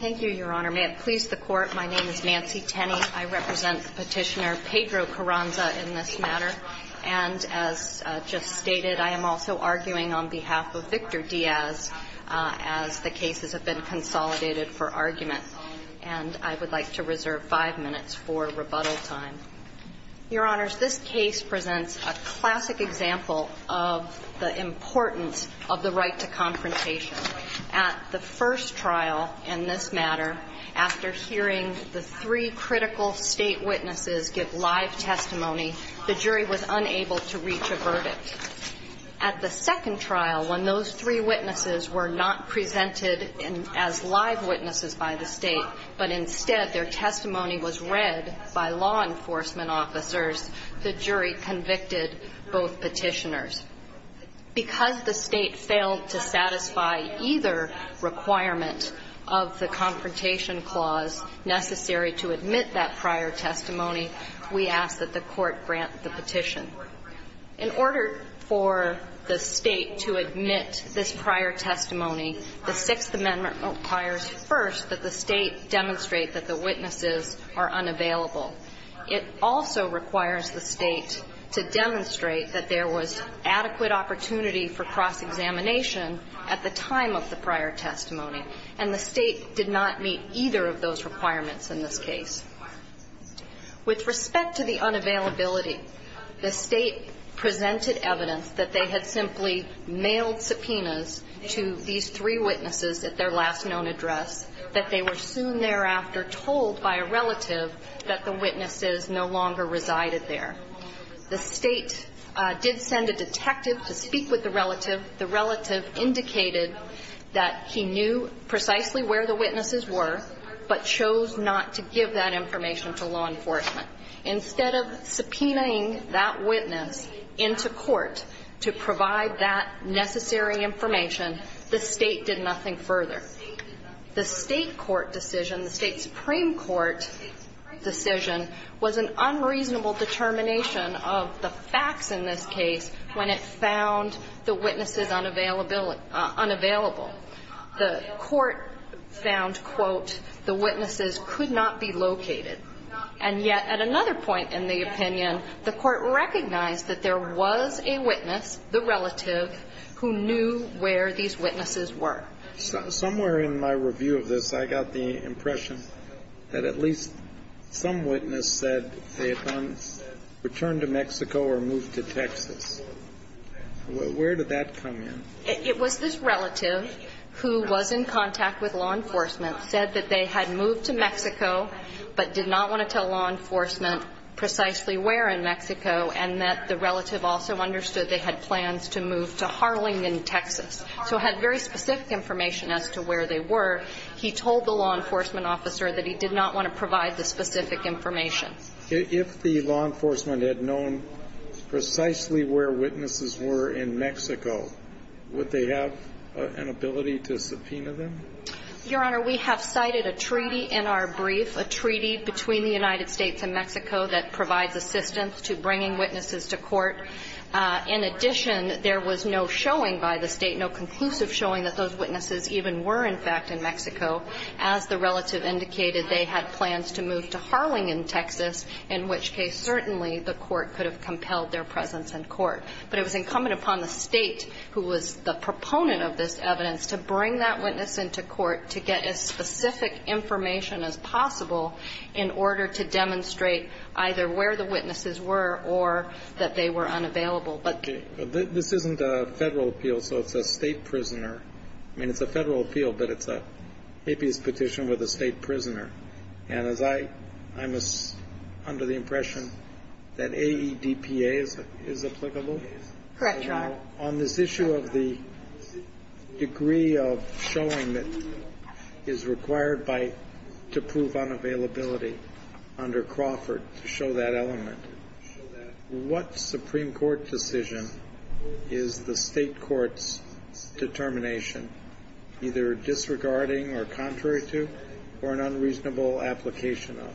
Thank you, Your Honor. May it please the Court, my name is Nancy Tenney. I represent Petitioner Pedro Carranza in this matter. And as just stated, I am also arguing on behalf of Victor Diaz as the cases have been consolidated for argument. And I would like to reserve five minutes for rebuttal time. Your Honors, this case presents a classic example of the importance of the right to confrontation. At the first trial in this matter, after hearing the three critical state witnesses give live testimony, the jury was unable to reach a verdict. At the second trial, when those three witnesses were not presented as live witnesses by the state, but instead their testimony was read by law enforcement officers, the jury convicted both petitioners. Because the state failed to satisfy either requirement of the confrontation clause necessary to admit that prior testimony, we ask that the Court grant the petition. In order for the state to admit this prior testimony, the Sixth Amendment requires first that the state demonstrate that the witnesses are unavailable. It also requires the state to demonstrate that there was adequate opportunity for cross-examination at the time of the prior testimony. And the state did not meet either of those requirements in this case. With respect to the unavailability, the state presented evidence that they had simply mailed subpoenas to these three witnesses at their last known address, that they were soon thereafter told by a relative that the witnesses no longer resided there. The state did send a detective to speak with the relative. The relative indicated that he knew precisely where the witnesses were, but chose not to give that information to law enforcement. Instead of subpoenaing that witness into court to provide that necessary information, the state did nothing further. The state court decision, the state supreme court decision, was an unreasonable determination of the facts in this case when it found the witnesses unavailable. The court found, quote, the witnesses could not be located. And yet at another point in the opinion, the court recognized that there was a witness, the relative, who knew where these witnesses were. Somewhere in my review of this, I got the impression that at least some witness said they had gone, returned to Mexico or moved to Texas. Where did that come in? It was this relative who was in contact with law enforcement, said that they had moved to Mexico, but did not want to tell law enforcement precisely where in Mexico, and that the relative also understood they had plans to move to Harlingen, Texas. So had very specific information as to where they were. He told the law enforcement officer that he did not want to provide the specific information. If the law enforcement had known precisely where witnesses were in Mexico, would they have an ability to subpoena them? Your Honor, we have cited a treaty in our brief, a treaty between the United States and Mexico that provides assistance to bringing witnesses to court. In addition, there was no showing by the State, no conclusive showing that those witnesses even were, in fact, in Mexico. As the relative indicated, they had plans to move to Harlingen, Texas, in which case certainly the court could have compelled their presence in court. But it was incumbent upon the State, who was the proponent of this evidence, to bring that witness into court to get as specific information as possible in order to demonstrate either where the witnesses were or that they were unavailable. This isn't a Federal appeal, so it's a State prisoner. I mean, it's a Federal appeal, but it's an habeas petition with a State prisoner. And as I'm under the impression that AEDPA is applicable? Correct, Your Honor. Now, on this issue of the degree of showing that is required by to prove unavailability under Crawford to show that element, what Supreme Court decision is the State court's determination either disregarding or contrary to or an unreasonable application of?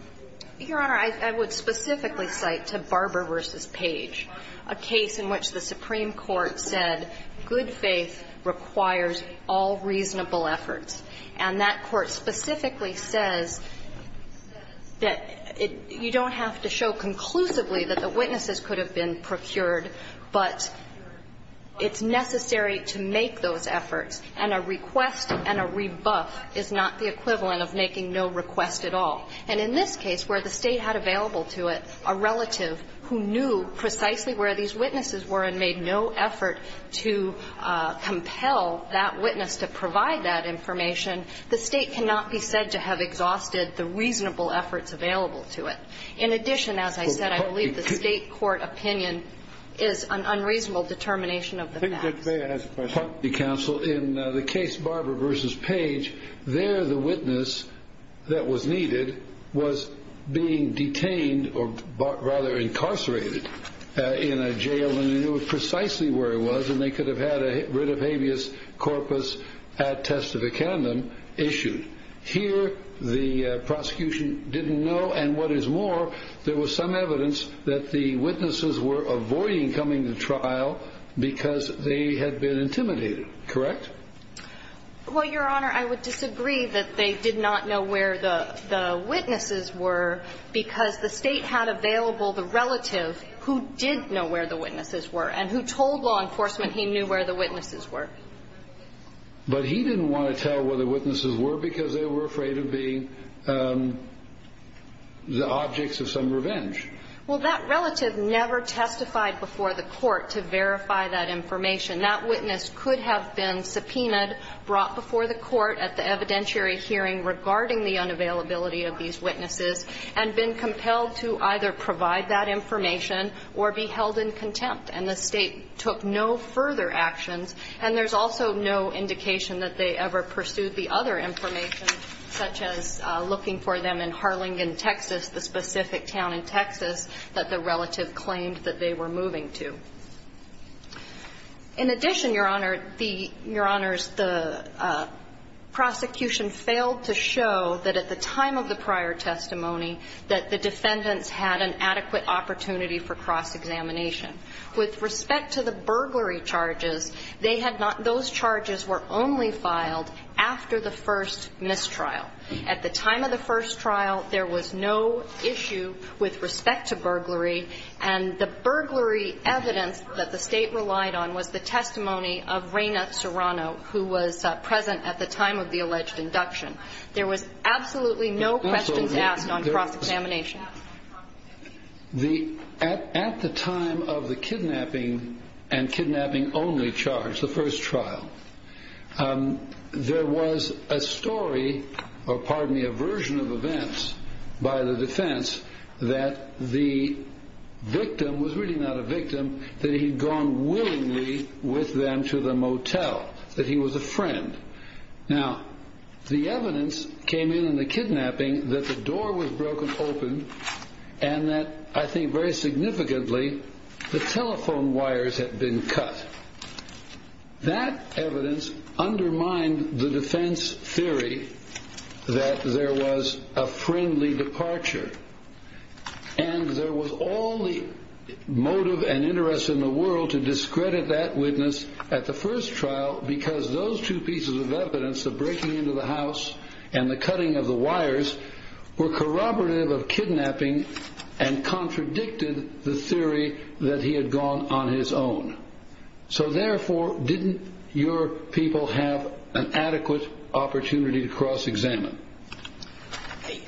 Your Honor, I would specifically cite to Barber v. Page a case in which the Supreme Court said good faith requires all reasonable efforts. And that court specifically says that you don't have to show conclusively that the witnesses could have been procured, but it's necessary to make those efforts. And a request and a rebuff is not the equivalent of making no request at all. And in this case, where the State had available to it a relative who knew precisely where these witnesses were and made no effort to compel that witness to provide that information, the State cannot be said to have exhausted the reasonable efforts available to it. In addition, as I said, I believe the State court opinion is an unreasonable determination of the facts. If I may ask a question. In the case Barber v. Page, there the witness that was needed was being detained or rather incarcerated in a jail, and they knew precisely where it was, and they could have had a writ of habeas corpus ad testificandum issued. Here the prosecution didn't know, and what is more, there was some evidence that the witnesses were avoiding coming to trial because they had been intimidated. Correct? Well, Your Honor, I would disagree that they did not know where the witnesses were because the State had available the relative who did know where the witnesses were and who told law enforcement he knew where the witnesses were. But he didn't want to tell where the witnesses were because they were afraid of being the objects of some revenge. Well, that relative never testified before the court to verify that information. That witness could have been subpoenaed, brought before the court at the evidentiary hearing regarding the unavailability of these witnesses and been compelled to either provide that information or be held in contempt. And the State took no further actions, and there's also no indication that they ever pursued the other information, such as looking for them in Harlingen, Texas, the specific town in Texas that the relative claimed that they were moving to. In addition, Your Honor, the prosecution failed to show that at the time of the prior testimony that the defendants had an adequate opportunity for cross-examination. With respect to the burglary charges, they had not – those charges were only filed after the first mistrial. At the time of the first trial, there was no issue with respect to burglary, and the burglary evidence that the State relied on was the testimony of Reina Serrano, who was present at the time of the alleged induction. There was absolutely no questions asked on cross-examination. At the time of the kidnapping and kidnapping-only charge, the first trial, there was a story or, pardon me, a version of events by the defense that the victim was really not a victim, that he'd gone willingly with them to the motel, that he was a friend. Now, the evidence came in in the kidnapping that the door was broken open and that, I think very significantly, the telephone wires had been cut. That evidence undermined the defense theory that there was a friendly departure, and there was all the motive and interest in the world to discredit that witness at the first trial because those two pieces of evidence, the breaking into the house and the cutting of the wires, were corroborative of kidnapping and contradicted the theory that he had gone on his own. So, therefore, didn't your people have an adequate opportunity to cross-examine?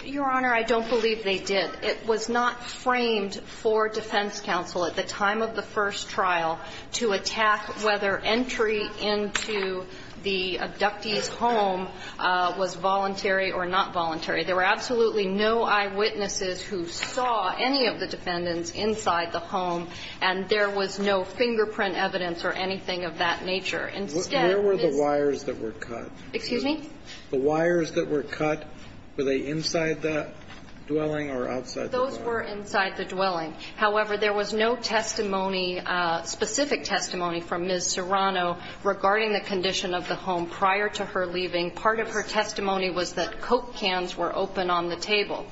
Your Honor, I don't believe they did. It was not framed for defense counsel at the time of the first trial to attack whether entry into the abductee's home was voluntary or not voluntary. There were absolutely no eyewitnesses who saw any of the defendants inside the home, and there was no fingerprint evidence or anything of that nature. Instead, Ms. ---- Where were the wires that were cut? Excuse me? The wires that were cut, were they inside the dwelling or outside the dwelling? Those were inside the dwelling. However, there was no testimony, specific testimony, from Ms. Serrano regarding the condition of the home prior to her leaving. Part of her testimony was that Coke cans were open on the table,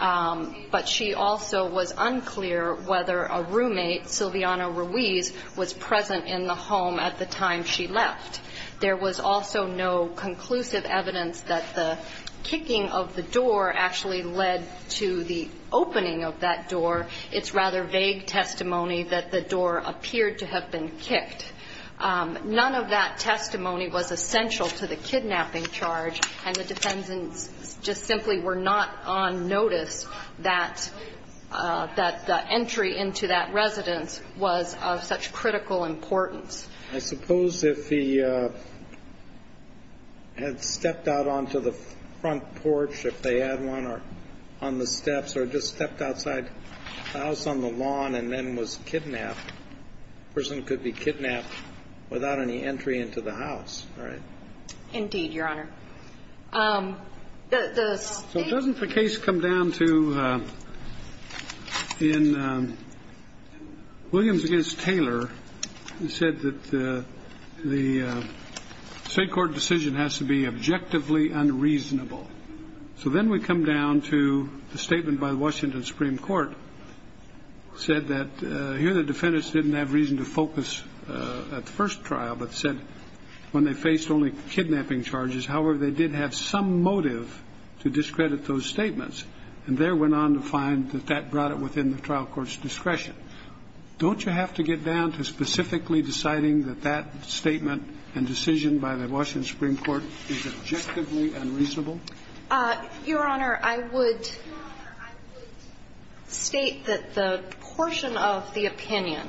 but she also was unclear whether a roommate, Silviano Ruiz, was present in the home at the time she left. There was also no conclusive evidence that the kicking of the door actually led to the opening of that door. It's rather vague testimony that the door appeared to have been kicked. None of that testimony was essential to the kidnapping charge, and the defendants just simply were not on notice that the entry into that residence was of such critical importance. I suppose if he had stepped out onto the front porch, if they had one, or on the steps, or just stepped outside the house on the lawn and then was kidnapped, the person could be kidnapped without any entry into the house, right? Indeed, Your Honor. So doesn't the case come down to, in Williams against Taylor, he said that the state court decision has to be objectively unreasonable. So then we come down to the statement by the Washington Supreme Court, said that here the defendants didn't have reason to focus at the first trial, but said when they faced only kidnapping charges, however, they did have some motive to discredit those statements. And there went on to find that that brought it within the trial court's discretion. Don't you have to get down to specifically deciding that that statement and decision by the Washington Supreme Court is objectively unreasonable? Your Honor, I would state that the portion of the opinion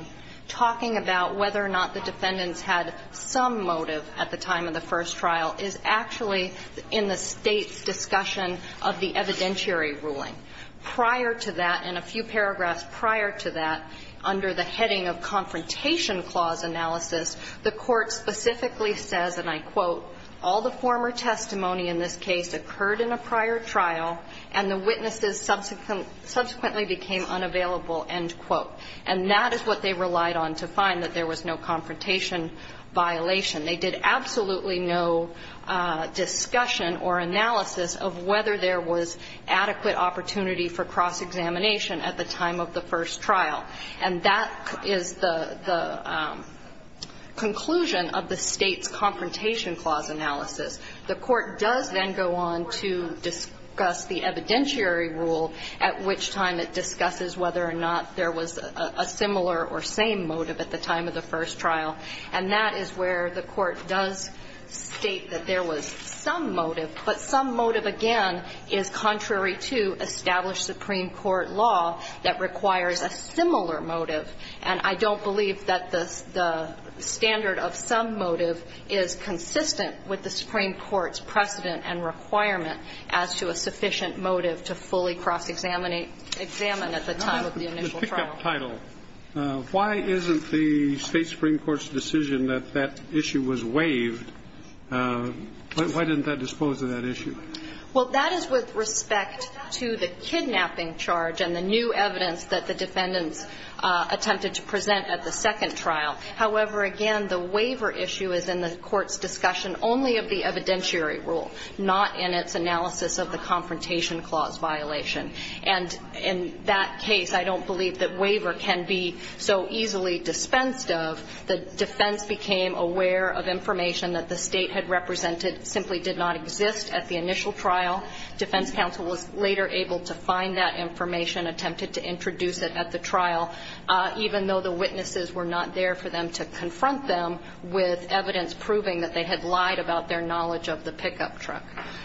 talking about whether or not the defendants had some motive at the time of the first trial is actually in the State's discussion of the evidentiary ruling. Prior to that, and a few paragraphs prior to that, under the heading of confrontation clause analysis, the Court specifically says, and I quote, all the former testimony in this case occurred in a prior trial, and the witnesses subsequently became unavailable, end quote. And that is what they relied on to find, that there was no confrontation violation. They did absolutely no discussion or analysis of whether there was adequate opportunity for cross-examination at the time of the first trial. And that is the conclusion of the State's confrontation clause analysis. The Court does then go on to discuss the evidentiary rule, at which time it discusses whether or not there was a similar or same motive at the time of the first trial. And that is where the Court does state that there was some motive, but some motive, again, is contrary to established Supreme Court law that requires a similar motive. And I don't believe that the standard of some motive is consistent with the Supreme Court's precedent and requirement as to a sufficient motive to fully cross-examine at the time of the initial trial. Kennedy. Why isn't the State Supreme Court's decision that that issue was waived, why didn't that dispose of that issue? Well, that is with respect to the kidnapping charge and the new evidence that the defendants attempted to present at the second trial. However, again, the waiver issue is in the Court's discussion only of the evidentiary rule, not in its analysis of the confrontation clause violation. And in that case, I don't believe that waiver can be so easily dispensed of. The defense became aware of information that the State had represented simply did not exist at the initial trial. Defense counsel was later able to find that information, attempted to introduce it at the trial, even though the witnesses were not there for them to confront them with evidence proving that they had lied about their knowledge of the pickup truck.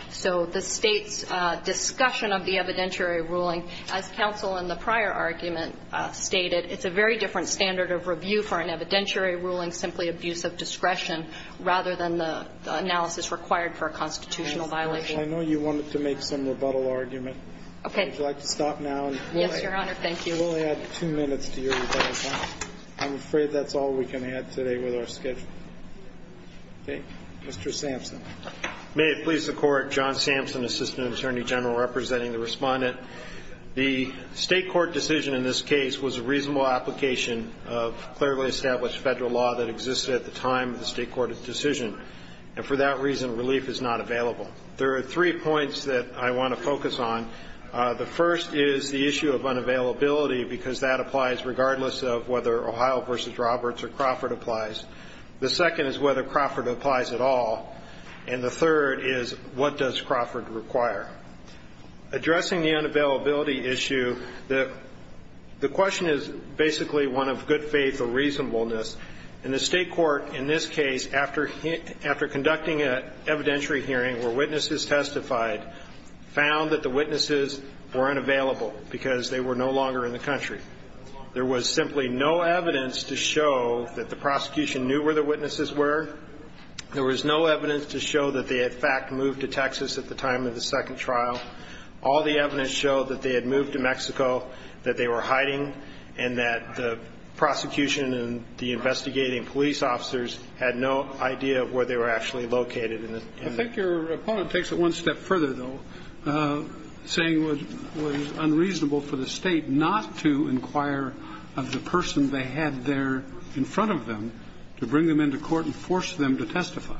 So the State's discussion of the evidentiary ruling, as counsel in the prior argument stated, it's a very different standard of review for an evidentiary ruling, simply abuse of discretion, rather than the analysis required for a constitutional violation. I know you wanted to make some rebuttal argument. Okay. Would you like to stop now? Yes, Your Honor. Thank you. We'll add two minutes to your rebuttal. I'm afraid that's all we can add today with our schedule. Okay. Mr. Sampson. May it please the Court. John Sampson, Assistant Attorney General, representing the Respondent. The State court decision in this case was a reasonable application of clearly established Federal law that existed at the time of the State court decision. And for that reason, relief is not available. There are three points that I want to focus on. The first is the issue of unavailability, because that applies regardless of whether Ohio v. Roberts or Crawford applies. The second is whether Crawford applies at all. And the third is, what does Crawford require? Addressing the unavailability issue, the question is basically one of good faith or reasonableness. And the State court in this case, after conducting an evidentiary hearing where witnesses testified, found that the witnesses were unavailable because they were no longer in the country. There was simply no evidence to show that the prosecution knew where the witnesses were. There was no evidence to show that they, in fact, moved to Texas at the time of the second trial. All the evidence showed that they had moved to Mexico, that they were hiding, and that the prosecution and the investigating police officers had no idea of where they were actually located. I think your opponent takes it one step further, though, saying it was unreasonable for the State not to inquire of the person they had there in front of them to bring them into court and force them to testify.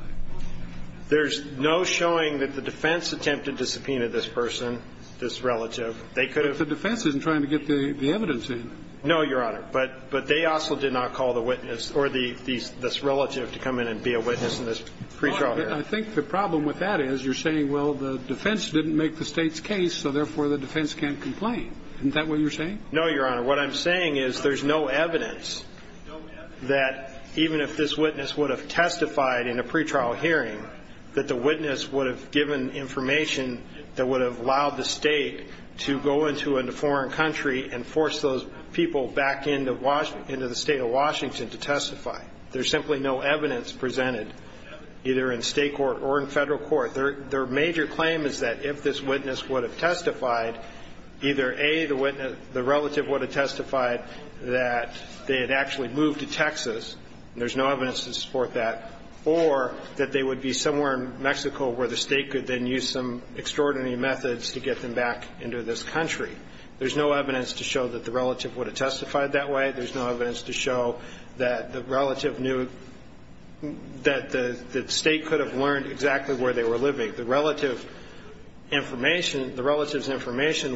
There's no showing that the defense attempted to subpoena this person, this relative. They could have ---- But the defense isn't trying to get the evidence in. No, Your Honor. But they also did not call the witness or this relative to come in and be a witness in this pretrial hearing. Well, I think the problem with that is you're saying, well, the defense didn't make the State's case, so therefore the defense can't complain. Isn't that what you're saying? No, Your Honor. What I'm saying is there's no evidence that even if this witness would have testified in a pretrial hearing, that the witness would have given information that would have allowed the State to go into a foreign country and force those people back into the State of Washington to testify. There's simply no evidence presented, either in State court or in Federal court. Their major claim is that if this witness would have testified, either, A, the relative would have testified that they had actually moved to Texas, and there's no evidence to support that, or that they would be somewhere in Mexico where the State could then use some extraordinary methods to get them back into this country. There's no evidence to show that the relative would have testified that way. There's no evidence to show that the relative knew that the State could have learned exactly where they were living. The relative's information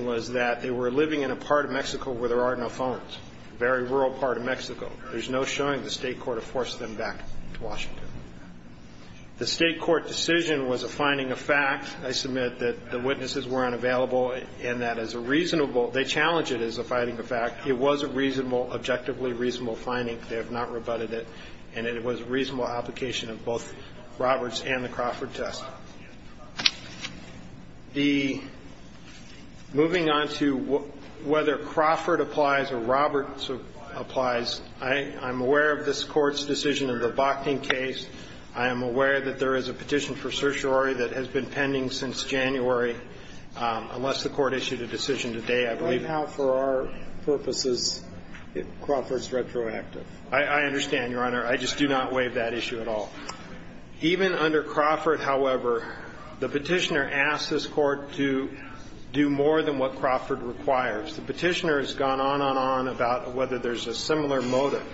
was that they were living in a part of Mexico where there are no phones, a very rural part of Mexico. There's no showing the State court have forced them back to Washington. The State court decision was a finding of fact. I submit that the witnesses were unavailable, and that as a reasonable – they challenged it as a finding of fact. It was a reasonable, objectively reasonable finding. They have not rebutted it. And it was a reasonable application of both Roberts and the Crawford test. The – moving on to whether Crawford applies or Roberts applies, I'm aware of this Court's decision in the Bochning case. I am aware that there is a petition for certiorari that has been pending since January, unless the Court issued a decision today, I believe. I don't know how, for our purposes, Crawford's retroactive. I understand, Your Honor. I just do not waive that issue at all. Even under Crawford, however, the petitioner asked this Court to do more than what Crawford requires. The petitioner has gone on and on about whether there's a similar motive.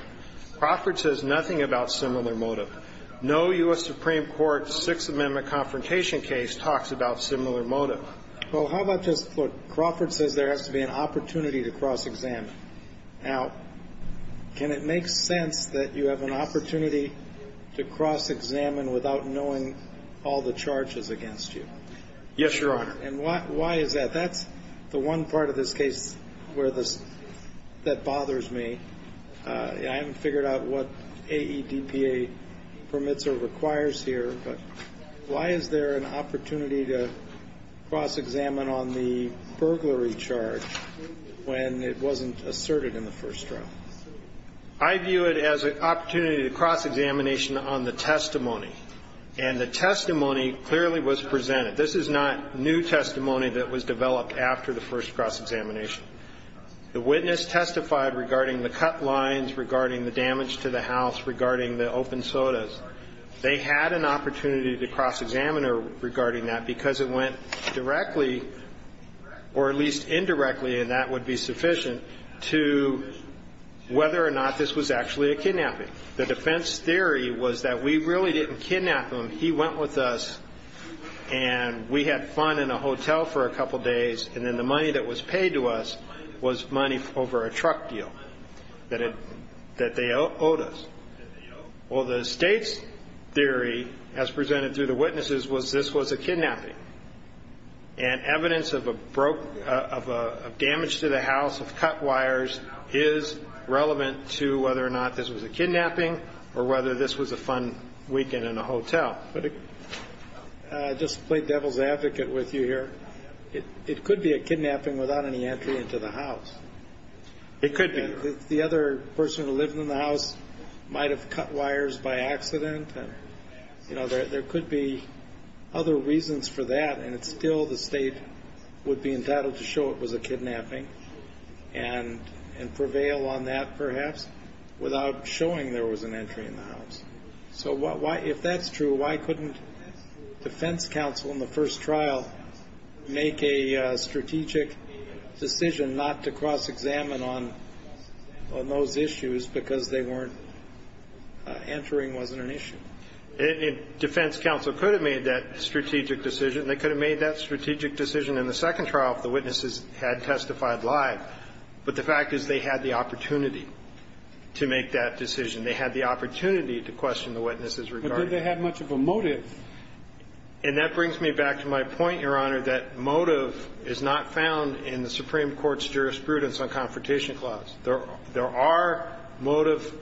Crawford says nothing about similar motive. No U.S. Supreme Court Sixth Amendment confrontation case talks about similar motive. Well, how about just – look, Crawford says there has to be an opportunity to cross-examine. Now, can it make sense that you have an opportunity to cross-examine without knowing all the charges against you? Yes, Your Honor. And why is that? That's the one part of this case where this – that bothers me. I haven't figured out what AEDPA permits or requires here, but why is there an opportunity to cross-examine on the burglary charge when it wasn't asserted in the first trial? I view it as an opportunity to cross-examination on the testimony. And the testimony clearly was presented. This is not new testimony that was developed after the first cross-examination. The witness testified regarding the cut lines, regarding the damage to the house, regarding the open sodas. They had an opportunity to cross-examine regarding that because it went directly, or at least indirectly, and that would be sufficient, to whether or not this was actually a kidnapping. The defense theory was that we really didn't kidnap him. He went with us, and we had fun in a hotel for a couple days, and then the money that was paid to us was money over a truck deal that they owed us. Well, the state's theory, as presented through the witnesses, was this was a kidnapping. And evidence of damage to the house, of cut wires, is relevant to whether or not this was a kidnapping or whether this was a fun weekend in a hotel. Just to play devil's advocate with you here, it could be a kidnapping without any entry into the house. It could be. The other person who lived in the house might have cut wires by accident. There could be other reasons for that, and still the state would be entitled to show it was a kidnapping and prevail on that, perhaps, without showing there was an entry in the house. So if that's true, why couldn't defense counsel in the first trial make a strategic decision not to cross-examine on those issues because they weren't entering wasn't an issue? Defense counsel could have made that strategic decision. They could have made that strategic decision in the second trial if the witnesses had testified live. But the fact is they had the opportunity to make that decision. They had the opportunity to question the witnesses regarding it. But did they have much of a motive? And that brings me back to my point, Your Honor, that motive is not found in the Supreme Court's jurisprudence on Confrontation Clause. There are motive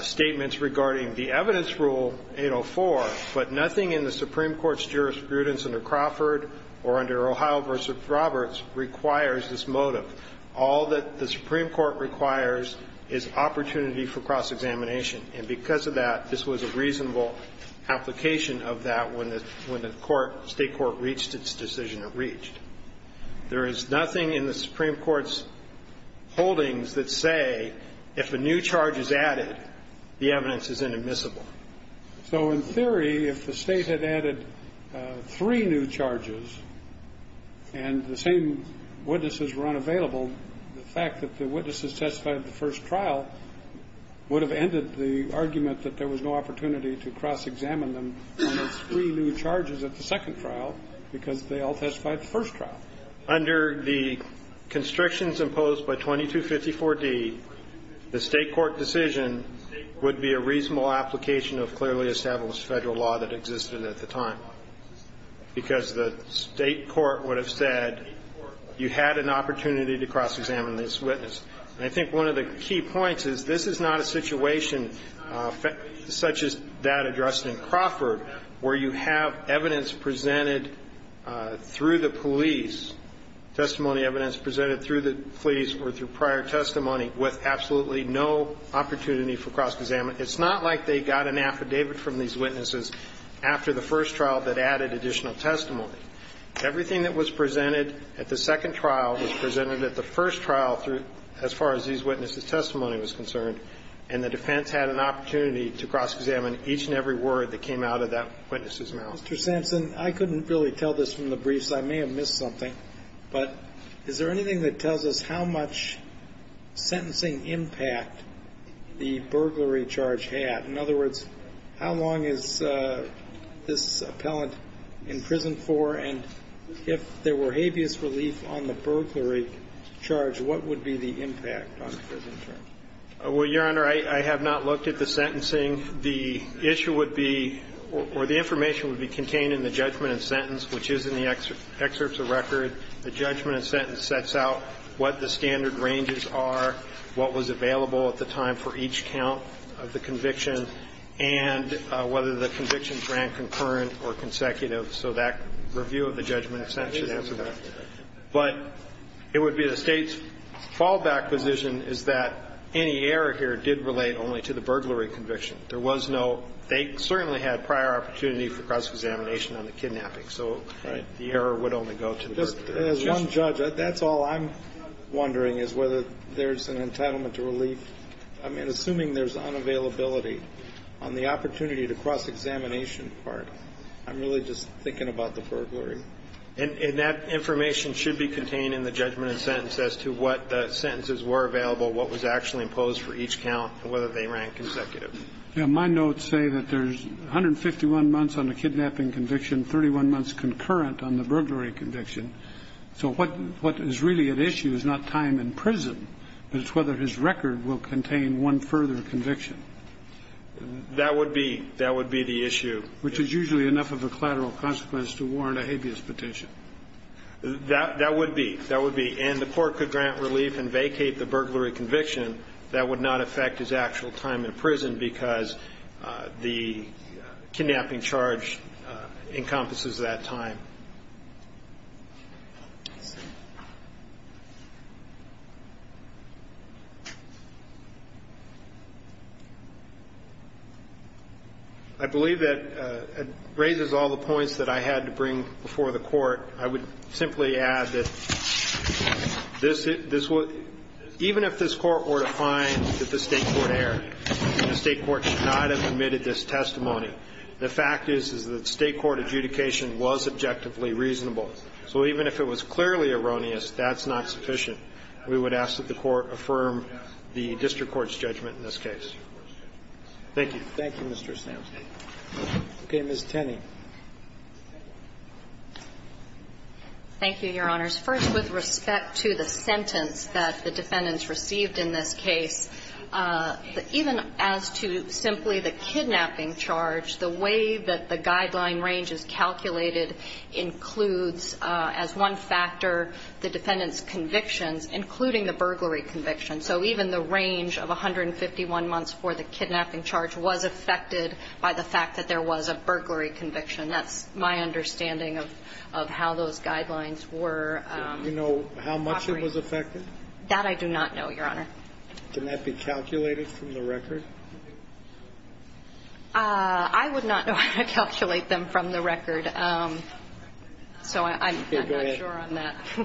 statements regarding the evidence rule 804, but nothing in the Supreme Court's jurisprudence under Crawford or under Ohio v. Roberts requires this motive. All that the Supreme Court requires is opportunity for cross-examination. And because of that, this was a reasonable application of that when the court, State court reached its decision it reached. There is nothing in the Supreme Court's holdings that say if a new charge is added, the evidence is inadmissible. So in theory, if the State had added three new charges and the same witnesses were unavailable, the fact that the witnesses testified at the first trial would have ended the argument that there was no opportunity to cross-examine them on those three new charges at the second trial because they all testified at the first trial. Under the constrictions imposed by 2254d, the State court decision would be a reasonable application of clearly established Federal law that existed at the time because the State court would have said you had an opportunity to cross-examine this witness. And I think one of the key points is this is not a situation such as that addressed in Crawford where you have evidence presented through the police, testimony evidence presented through the police or through prior testimony with absolutely no opportunity for cross-examination. It's not like they got an affidavit from these witnesses after the first trial that added additional testimony. Everything that was presented at the second trial was presented at the first trial as far as these witnesses' testimony was concerned, and the defense had an opportunity to cross-examine each and every word that came out of that witness's mouth. Mr. Sampson, I couldn't really tell this from the briefs. I may have missed something. But is there anything that tells us how much sentencing impact the burglary charge had? In other words, how long is this appellant in prison for? And if there were habeas relief on the burglary charge, what would be the impact on the prison charge? Well, Your Honor, I have not looked at the sentencing. The issue would be or the information would be contained in the judgment and sentence, which is in the excerpts of record. The judgment and sentence sets out what the standard ranges are, what was available at the time for each count of the conviction, and whether the convictions ran concurrent or consecutive. So that review of the judgment and sentence should answer that. But it would be the State's fallback position is that any error here did relate only to the burglary conviction. There was no – they certainly had prior opportunity for cross-examination on the kidnapping. So the error would only go to the burglary conviction. Just as one judge, that's all I'm wondering is whether there's an entitlement to relief. I mean, assuming there's unavailability on the opportunity to cross-examination part, I'm really just thinking about the burglary. And that information should be contained in the judgment and sentence as to what the sentences were available, what was actually imposed for each count, and whether they ran consecutive. Yeah. My notes say that there's 151 months on the kidnapping conviction, 31 months concurrent on the burglary conviction. So what is really at issue is not time in prison, but it's whether his record will contain one further conviction. That would be. That would be the issue. Which is usually enough of a collateral consequence to warrant a habeas petition. That would be. That would be. And the Court could grant relief and vacate the burglary conviction. That would not affect his actual time in prison because the kidnapping charge encompasses that time. I believe that it raises all the points that I had to bring before the Court. I would simply add that this would – even if this Court were to find that the State Court erred, the State Court should not have committed this testimony. The fact is, is that State court adjudication was objectively reasonable. So even if it was clearly erroneous, that's not sufficient. We would ask that the Court affirm the district court's judgment in this case. Thank you. Thank you, Mr. Stams. Okay. Ms. Tenney. Thank you, Your Honors. First, with respect to the sentence that the defendants received in this case, even as to simply the kidnapping charge, the way that the guideline range is calculated includes as one factor the defendant's convictions, including the burglary conviction. So even the range of 151 months for the kidnapping charge was affected by the fact that there was a burglary conviction. That's my understanding of how those guidelines were operating. Do you know how much it was affected? That I do not know, Your Honor. Can that be calculated from the record? I would not know how to calculate them from the record. So I'm not sure on that. Okay. Go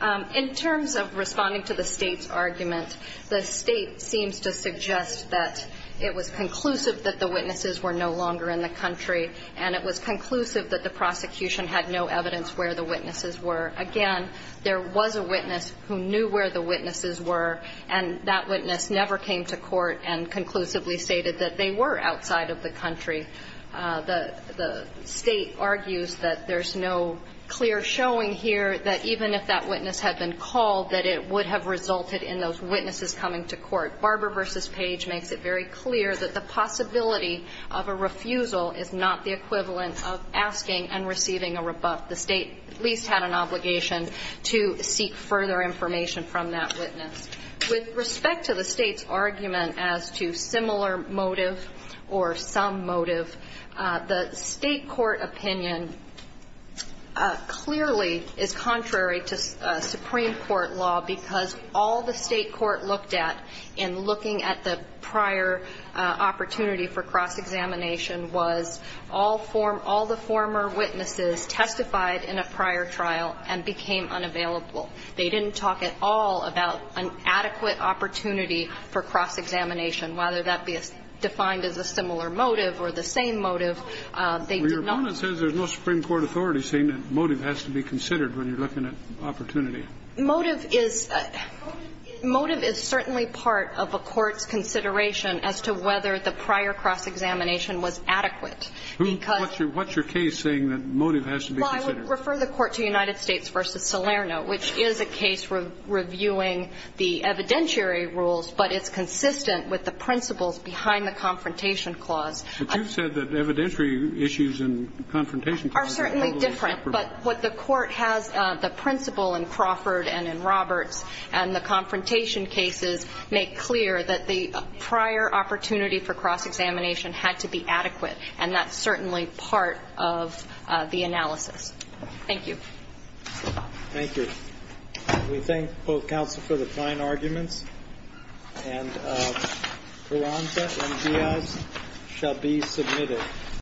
ahead. In terms of responding to the State's argument, the State seems to suggest that it was conclusive that the witnesses were no longer in the country, and it was conclusive that the prosecution had no evidence where the witnesses were. Again, there was a witness who knew where the witnesses were, and that witness never came to court and conclusively stated that they were outside of the country. The State argues that there's no clear showing here that even if that witness had been called, that it would have resulted in those witnesses coming to court. Barbara versus Page makes it very clear that the possibility of a refusal is not the equivalent of asking and receiving a rebuff. The State at least had an obligation to seek further information from that witness. With respect to the State's argument as to similar motive or some motive, the State court opinion clearly is contrary to Supreme Court law because all the State court looked at in looking at the prior opportunity for cross-examination was all the former witnesses testified in a prior trial and became unavailable. They didn't talk at all about an adequate opportunity for cross-examination, whether that be defined as a similar motive or the same motive. They did not. Well, your bonus says there's no Supreme Court authority saying that motive has to be considered when you're looking at opportunity. Motive is certainly part of a court's consideration as to whether the prior cross-examination was adequate. What's your case saying that motive has to be considered? Well, I would refer the Court to United States v. Salerno, which is a case reviewing the evidentiary rules, but it's consistent with the principles behind the Confrontation Clause. But you said that evidentiary issues in Confrontation Clause are a little different. But what the Court has, the principle in Crawford and in Roberts and the Confrontation cases make clear that the prior opportunity for cross-examination had to be adequate, and that's certainly part of the analysis. Thank you. Thank you. We thank both counsel for the fine arguments. And Carranza and Diaz shall be submitted.